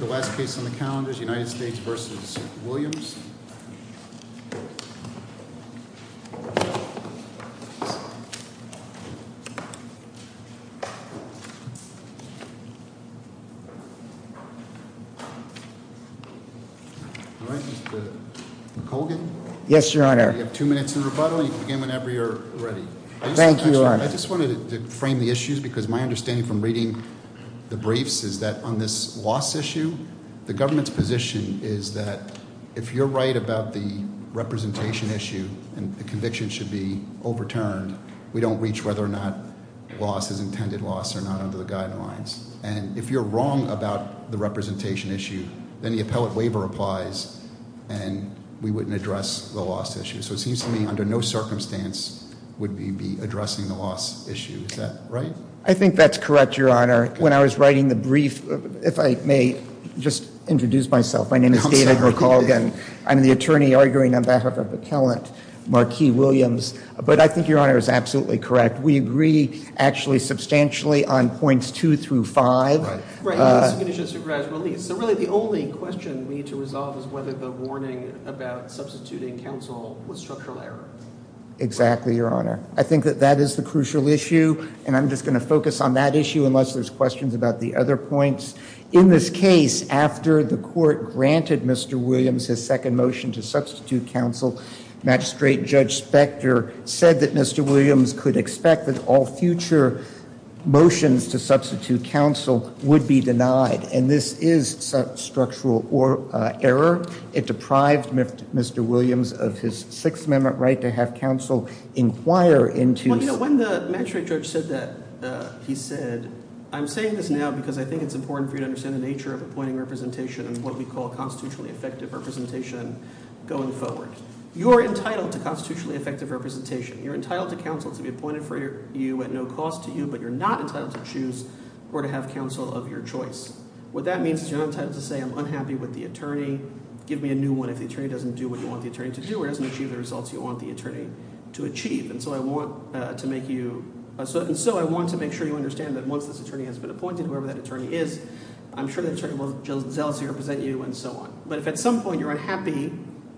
I just wanted to frame the issues because my understanding from reading the briefs is that on this loss issue, the government's position is that if you're right about the representation issue and the conviction should be overturned, we don't reach whether or not loss is intended loss or not under the guidelines. And if you're wrong about the representation issue, then the appellate waiver applies and we wouldn't address the loss issue. So it seems to me under no circumstance would we be addressing the loss issue, is that right? I think that's correct, Your Honor. When I was writing the brief, if I may just introduce myself, my name is David McColgan. I'm the attorney arguing on behalf of appellate Marquis Williams, but I think Your Honor is absolutely correct. We agree actually substantially on points two through five. So really the only question we need to resolve is whether the warning about substituting counsel was structural error. Exactly, Your Honor. I think that that is the crucial issue and I'm just going to focus on that issue unless there's questions about the other points. In this case, after the court granted Mr. Williams his second motion to substitute counsel, Magistrate Judge Spector said that Mr. Williams could expect that all future motions to substitute counsel would be denied. And this is structural error. It deprived Mr. Williams of his Sixth Amendment right to have counsel inquire into- Well, you know, when the magistrate judge said that, he said, I'm saying this now because I think it's important for you to understand the nature of appointing representation and what we call constitutionally effective representation going forward. You're entitled to constitutionally effective representation. You're entitled to counsel to be appointed for you at no cost to you, but you're not entitled to choose or to have counsel of your choice. What that means is you're not entitled to say, I'm unhappy with the attorney. Give me a new one if the attorney doesn't do what you want the attorney to do or doesn't achieve the results you want the attorney to achieve. And so I want to make sure you understand that once this attorney has been appointed, whoever that attorney is, I'm sure the attorney will just zealously represent you and so on. But if at some point you're unhappy,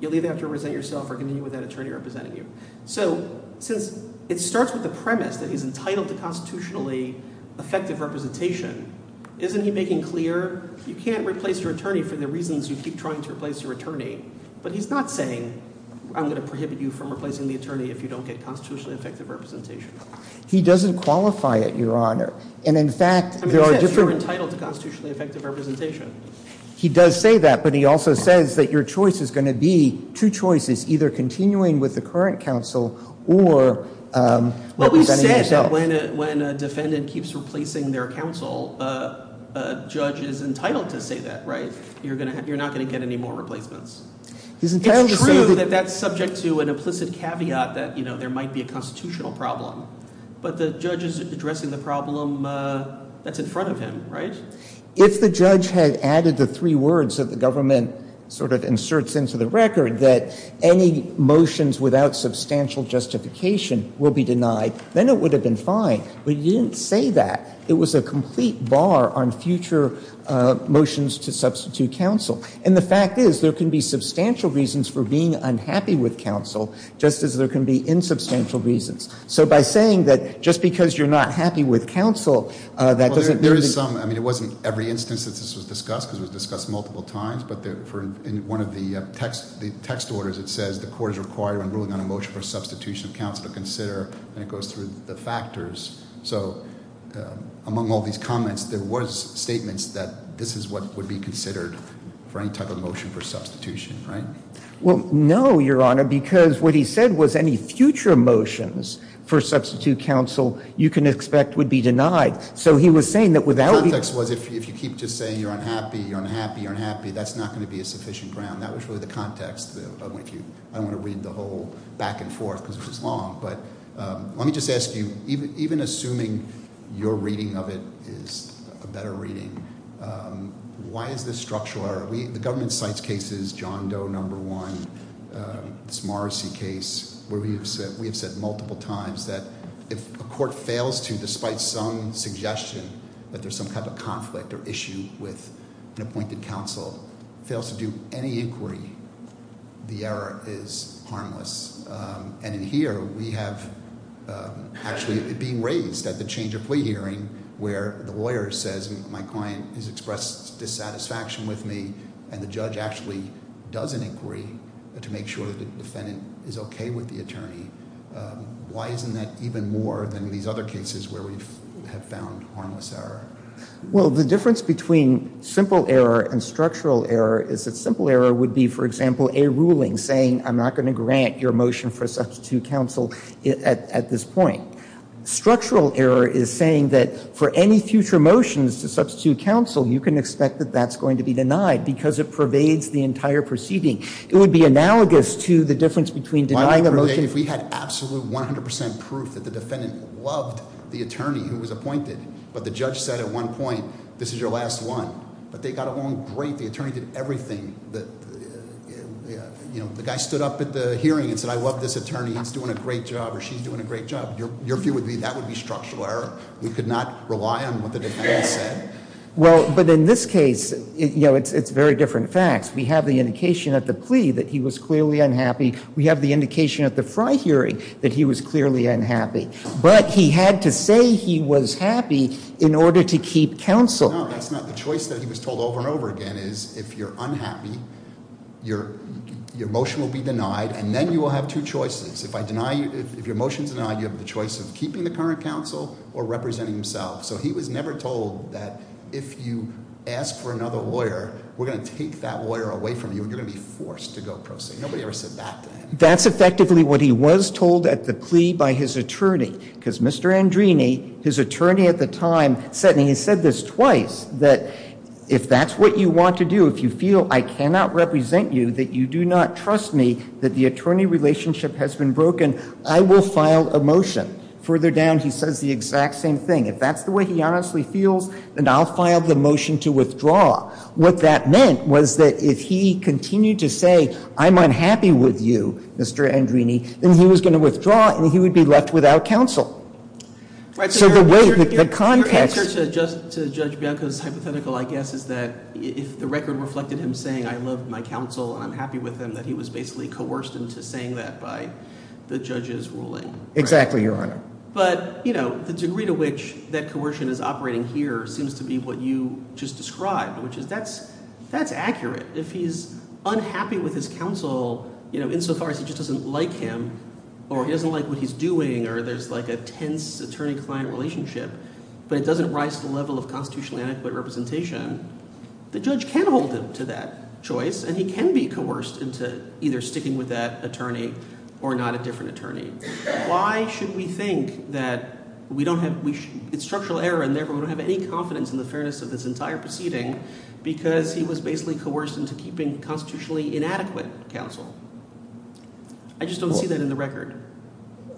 you'll either have to represent yourself or continue with that attorney representing you. So since it starts with the premise that he's entitled to constitutionally effective representation, isn't he making clear, you can't replace your attorney for the reasons you keep trying to replace your attorney. But he's not saying, I'm going to prohibit you from replacing the attorney if you don't get constitutionally effective representation. He doesn't qualify it, your honor. And in fact, there are different- I mean, he says you're entitled to constitutionally effective representation. He does say that, but he also says that your choice is going to be two choices, either continuing with the current counsel or representing yourself. What we said when a defendant keeps replacing their counsel, a judge is entitled to say that, right? You're not going to get any more replacements. It's true that that's subject to an implicit caveat that there might be a constitutional problem. But the judge is addressing the problem that's in front of him, right? If the judge had added the three words that the government sort of inserts into the record, that any motions without substantial justification will be denied, then it would have been fine. But he didn't say that. It was a complete bar on future motions to substitute counsel. And the fact is, there can be substantial reasons for being unhappy with counsel, just as there can be insubstantial reasons. So by saying that just because you're not happy with counsel, that doesn't- I mean, it wasn't every instance that this was discussed, because it was discussed multiple times. But for one of the text orders, it says the court is required when ruling on a motion for substitution of counsel to consider, and it goes through the factors. So among all these comments, there was statements that this is what would be considered for any type of motion for substitution, right? Well, no, your honor, because what he said was any future motions for substitute counsel you can expect would be denied. So he was saying that without- The context was if you keep just saying you're unhappy, you're unhappy, you're unhappy, that's not going to be a sufficient ground. That was really the context. I don't want to read the whole back and forth, because it's long. But let me just ask you, even assuming your reading of it is a better reading, why is this structural error? The government cites cases, John Doe number one, this Morrissey case, where we have said multiple times that if a court fails to, despite some suggestion, that there's some type of conflict or issue with an appointed counsel, fails to do any inquiry, the error is harmless. And in here, we have actually it being raised at the change of plea hearing, where the lawyer says my client has expressed dissatisfaction with me, and then the judge actually does an inquiry to make sure that the defendant is okay with the attorney. Why isn't that even more than these other cases where we have found harmless error? Well, the difference between simple error and structural error is that simple error would be, for example, a ruling saying I'm not going to grant your motion for substitute counsel at this point. Structural error is saying that for any future motions to substitute counsel, you can expect that that's going to be denied because it pervades the entire proceeding. It would be analogous to the difference between denying a motion- If we had absolute 100% proof that the defendant loved the attorney who was appointed, but the judge said at one point, this is your last one, but they got along great. The attorney did everything, the guy stood up at the hearing and said, I love this attorney, he's doing a great job, or she's doing a great job. Your view would be that would be structural error. We could not rely on what the defendant said. Well, but in this case, it's very different facts. We have the indication at the plea that he was clearly unhappy. We have the indication at the Frey hearing that he was clearly unhappy. But he had to say he was happy in order to keep counsel. No, that's not the choice that he was told over and over again is if you're unhappy, your motion will be denied, and then you will have two choices. If your motion's denied, you have the choice of keeping the current counsel or representing himself. So he was never told that if you ask for another lawyer, we're going to take that lawyer away from you, and you're going to be forced to go pro se. Nobody ever said that to him. That's effectively what he was told at the plea by his attorney, because Mr. Andrini, his attorney at the time said, and he said this twice, that if that's what you want to do, if you feel I cannot represent you, that you do not trust me, that the attorney relationship has been broken, I will file a motion. Further down, he says the exact same thing. If that's the way he honestly feels, then I'll file the motion to withdraw. What that meant was that if he continued to say, I'm unhappy with you, Mr. Andrini, then he was going to withdraw, and he would be left without counsel. So the way that the context- Your answer to Judge Bianco's hypothetical, I guess, is that if the record reflected him saying, I love my counsel, and I'm happy with him, that he was basically coerced into saying that by the judge's ruling. Exactly, Your Honor. But the degree to which that coercion is operating here seems to be what you just described, which is, that's accurate. If he's unhappy with his counsel, insofar as he just doesn't like him, or he doesn't like what he's doing, or there's a tense attorney-client relationship, but it doesn't rise to the level of constitutionally adequate representation, the judge can hold him to that choice, and he can be coerced into either sticking with that attorney or not a different attorney. Why should we think that we don't have- it's structural error, and therefore we don't have any confidence in the fairness of this entire proceeding, because he was basically coerced into keeping constitutionally inadequate counsel? I just don't see that in the record.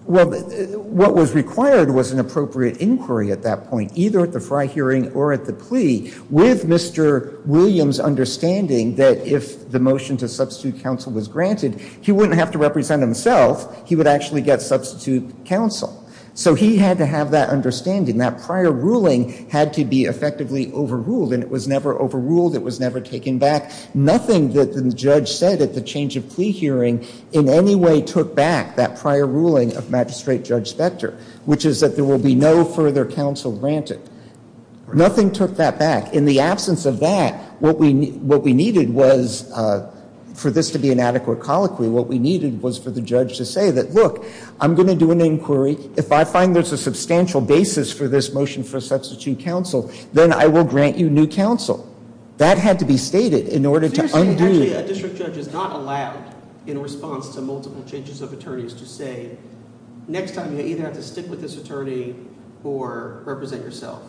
Well, what was required was an appropriate inquiry at that point, either at the Frey hearing or at the plea, with Mr. Williams' understanding that if the motion to substitute counsel was granted, he wouldn't have to represent himself. He would actually get substitute counsel. So he had to have that understanding. That prior ruling had to be effectively overruled, and it was never overruled. It was never taken back. Nothing that the judge said at the change of plea hearing in any way took back that prior ruling of Magistrate Judge Spector, which is that there will be no further counsel granted. Nothing took that back. In the absence of that, what we needed was, for this to be an adequate colloquy, what we needed was for the judge to say that, look, I'm going to do an inquiry. If I find there's a substantial basis for this motion for substitute counsel, then I will grant you new counsel. That had to be stated in order to undo- Seriously, actually, a district judge is not allowed, in response to multiple changes of attorneys, to say, next time you either have to stick with this attorney or represent yourself.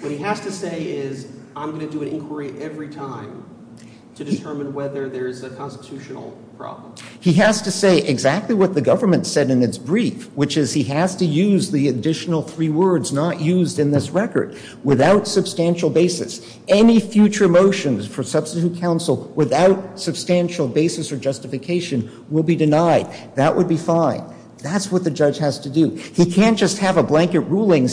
What he has to say is, I'm going to do an inquiry every time to determine whether there's a constitutional problem. He has to say exactly what the government said in its brief, which is he has to use the additional three words not used in this record, without substantial basis. Any future motions for substitute counsel without substantial basis or justification will be denied. That would be fine. That's what the judge has to do. Why didn't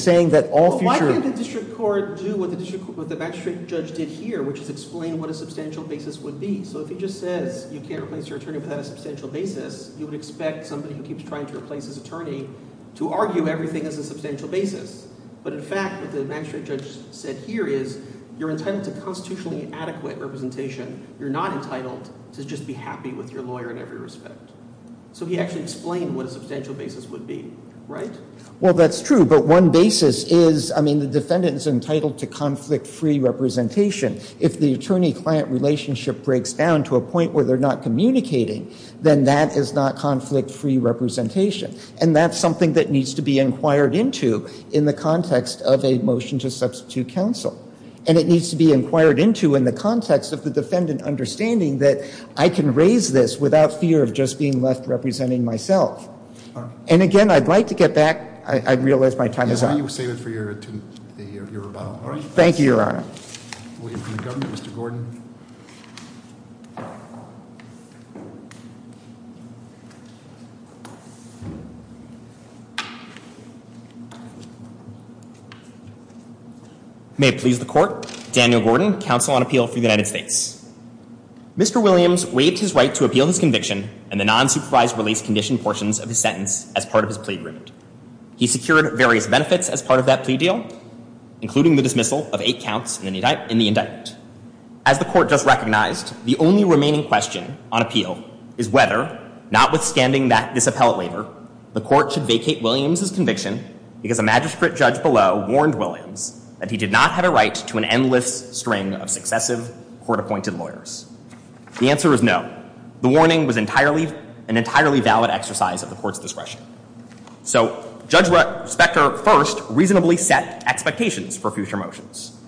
the district court do what the magistrate judge did here, which is explain what a substantial basis would be? If he just says you can't replace your attorney without a substantial basis, you would expect somebody who keeps trying to replace his attorney to argue everything as a substantial basis. In fact, what the magistrate judge said here is, you're entitled to constitutionally adequate representation. You're not entitled to just be happy with your lawyer in every respect. He actually explained what a substantial basis would be. Right? Well, that's true. But one basis is, I mean, the defendant is entitled to conflict-free representation. If the attorney-client relationship breaks down to a point where they're not communicating, then that is not conflict-free representation. And that's something that needs to be inquired into in the context of a motion to substitute counsel. And it needs to be inquired into in the context of the defendant understanding that I can raise this without fear of just being left representing myself. And, again, I'd like to get back. I realize my time is up. Yes, why don't you save it for your rebuttal. All right. Thank you, Your Honor. We'll wait for the government. Mr. Gordon. May it please the Court. Daniel Gordon, Counsel on Appeal for the United States. Mr. Williams waived his right to appeal his conviction and the non-supervised release condition portions of his sentence as part of his plea agreement. He secured various benefits as part of that plea deal, including the dismissal of eight counts in the indictment. As the Court just recognized, the only remaining question on appeal is whether, notwithstanding this appellate labor, the Court should vacate Williams' conviction because a magistrate judge below warned Williams that he did not have a right to an endless string of successive court-appointed lawyers. The answer is no. The warning was an entirely valid exercise of the Court's discretion. So Judge Specter first reasonably set expectations for future motions.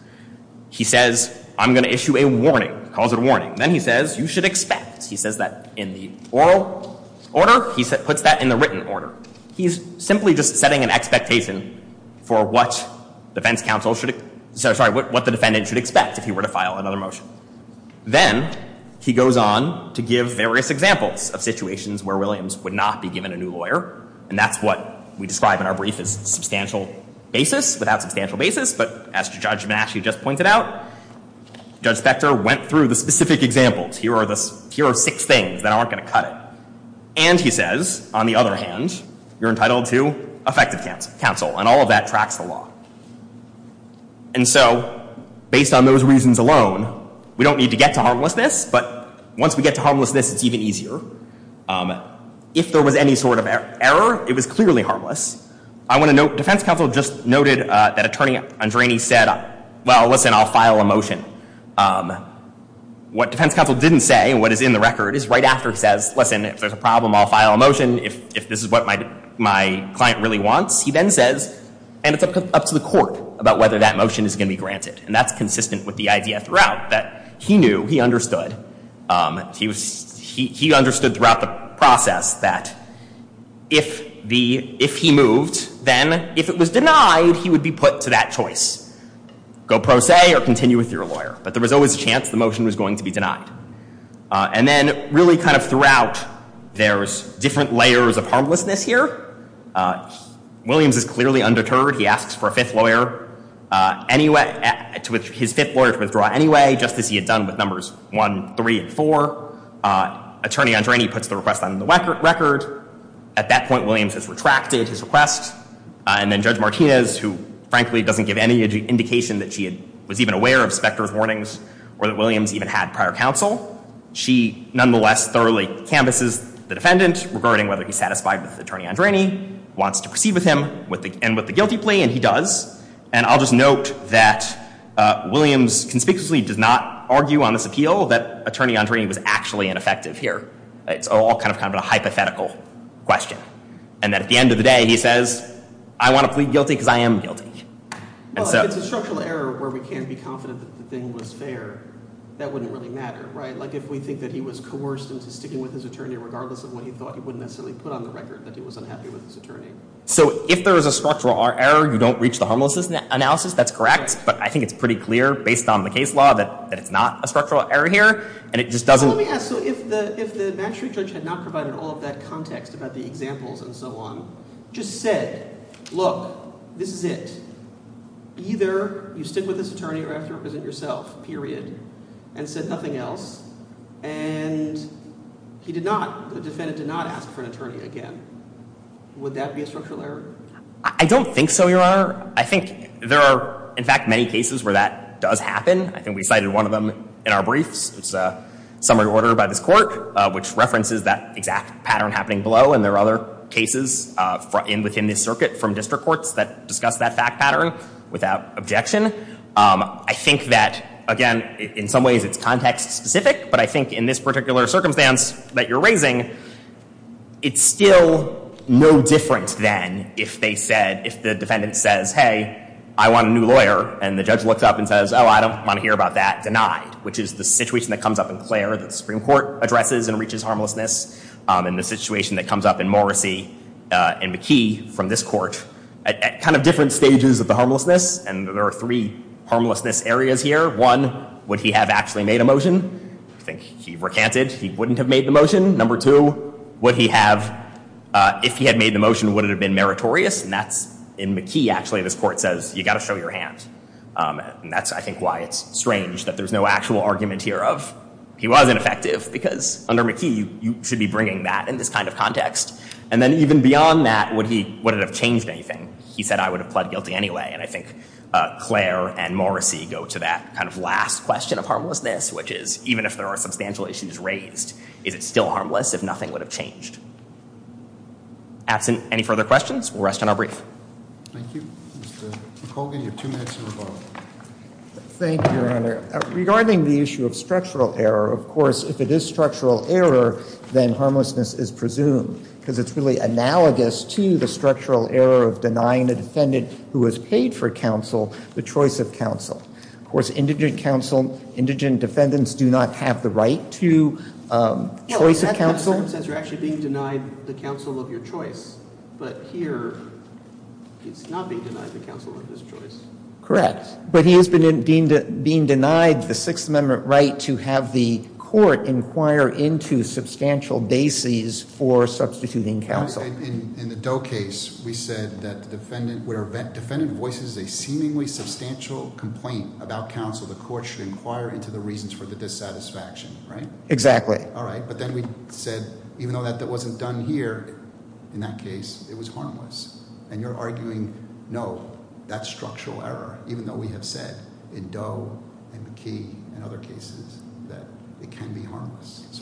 He says, I'm going to issue a warning, calls it a warning. Then he says, you should expect. He says that in the oral order. He puts that in the written order. He's simply just setting an expectation for what defense counsel should — sorry, what the defendant should expect if he were to file another motion. Then he goes on to give various examples of situations where Williams would not be given a new lawyer. And that's what we describe in our brief as substantial basis, without substantial basis. But as Judge Massey just pointed out, Judge Specter went through the specific examples. Here are the — here are six things that aren't going to cut it. And he says, on the other hand, you're entitled to effective counsel. And all of that tracks the law. And so, based on those reasons alone, we don't need to get to harmlessness. But once we get to harmlessness, it's even easier. If there was any sort of error, it was clearly harmless. I want to note, defense counsel just noted that Attorney Andrani said, well, listen, I'll file a motion. What defense counsel didn't say, and what is in the record, is right after he says, listen, if there's a problem, I'll file a motion. If this is what my client really wants, he then says, and it's up to the court about whether that motion is going to be granted. And that's consistent with the idea throughout, that he knew, he understood. He understood throughout the process that if he moved, then if it was denied, he would be put to that choice. Go pro se, or continue with your lawyer. But there was always a chance the motion was going to be denied. And then, really kind of throughout, there's different layers of harmlessness here. Williams is clearly undeterred. He asks for a fifth lawyer to withdraw anyway, just as he had done with Numbers 1, 3, and 4. Attorney Andrani puts the request on the record. At that point, Williams has retracted his request. And then Judge Martinez, who frankly doesn't give any indication that she was even aware of Specter's warnings, or that Williams even had prior counsel, she nonetheless thoroughly canvasses the defendant regarding whether he's satisfied with Attorney Andrani, wants to proceed with him, and with the guilty plea. And he does. And I'll just note that Williams conspicuously does not argue on this appeal that Attorney Andrani was actually ineffective here. It's all kind of a hypothetical question. And that at the end of the day, he says, I want to plead guilty because I am guilty. Well, if it's a structural error where we can't be confident that the thing was fair, that wouldn't really matter, right? Like, if we think that he was coerced into sticking with his attorney regardless of what he thought, he wouldn't necessarily put on the record that he was unhappy with his attorney. So if there is a structural error, you don't reach the harmlessness analysis, that's correct. But I think it's pretty clear, based on the case law, that it's not a structural error here. And it just doesn't Well, let me ask. So if the magistrate judge had not provided all of that context about the examples and so on, just said, look, this is it. Either you stick with this attorney or you have to represent yourself, period, and said nothing else. And he did not, the defendant did not ask for an attorney again. Would that be a structural error? I don't think so, Your Honor. I think there are, in fact, many cases where that does happen. I think we cited one of them in our briefs. It's a summary order by this court, which references that exact pattern happening below. And there are other cases within this circuit from district courts that discuss that fact pattern without objection. I think that, again, in some ways it's context-specific. But I think in this particular circumstance that you're raising, it's still no different then if the defendant says, hey, I want a new lawyer. And the judge looks up and says, oh, I don't want to hear about that, denied. Which is the situation that comes up in Clare that the Supreme Court addresses and reaches harmlessness. And the situation that comes up in Morrissey and McKee from this court at kind of different stages of the harmlessness. And there are three harmlessness areas here. One, would he have actually made a motion? I think he recanted he wouldn't have made the motion. Number two, would he have, if he had made the motion, would it have been meritorious? And that's in McKee, actually, this court says, you've got to show your hand. And that's, I think, why it's strange that there's no actual argument here of he wasn't effective. Because under McKee, you should be bringing that in this kind of context. And then even beyond that, would it have changed anything? He said, I would have pled guilty anyway. And I think Clare and Morrissey go to that kind of last question of harmlessness, which is, even if there are substantial issues raised, is it still harmless if nothing would have changed? Absent any further questions, we'll rest on our brief. Thank you. Mr. McColgan, you have two minutes to rebuttal. Thank you, Your Honor. Regarding the issue of structural error, of course, if it is structural error, then harmlessness is presumed. Because it's really analogous to the structural error of denying the defendant who has paid for counsel the choice of counsel. Of course, indigent counsel, indigent defendants do not have the right to choice of counsel. That sentence says you're actually being denied the counsel of your choice. But here, he's not being denied the counsel of his choice. Correct. But he is being denied the Sixth Amendment right to have the court inquire into substantial bases for substituting counsel. In the Doe case, we said that where a defendant voices a seemingly substantial complaint about counsel, the court should inquire into the reasons for the dissatisfaction, right? Exactly. Okay. All right. But then we said, even though that wasn't done here in that case, it was harmless. And you're arguing, no, that's structural error, even though we have said in Doe and McKee and other cases that it can be harmless.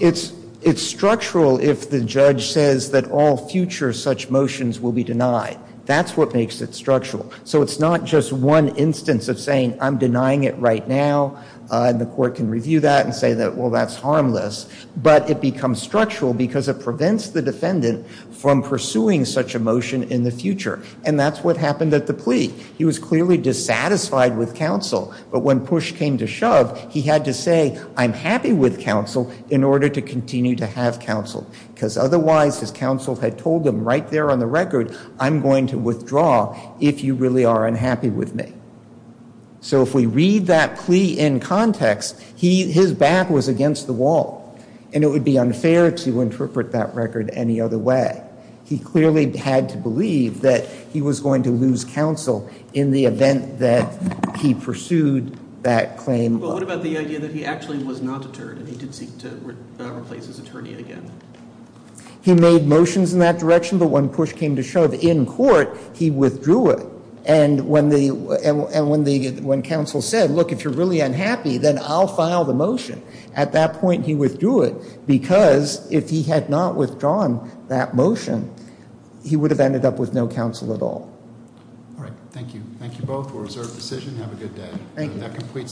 It's structural if the judge says that all future such motions will be denied. That's what makes it structural. So it's not just one instance of saying, I'm denying it right now, and the court can review that and say, well, that's harmless. But it becomes structural because it prevents the defendant from pursuing such a motion in the future. And that's what happened at the plea. He was clearly dissatisfied with counsel. But when push came to shove, he had to say, I'm happy with counsel in order to continue to have counsel. Because otherwise, his counsel had told him right there on the record, I'm going to withdraw if you really are unhappy with me. So if we read that plea in context, his back was against the wall. And it would be unfair to interpret that record any other way. He clearly had to believe that he was going to lose counsel in the event that he pursued that claim. But what about the idea that he actually was not deterred and he did seek to replace his attorney again? He made motions in that direction. But when push came to shove in court, he withdrew it. And when counsel said, look, if you're really unhappy, then I'll file the motion, at that point he withdrew it. Because if he had not withdrawn that motion, he would have ended up with no counsel at all. All right. Thank you. Thank you both for a reserved decision. Have a good day. Thank you.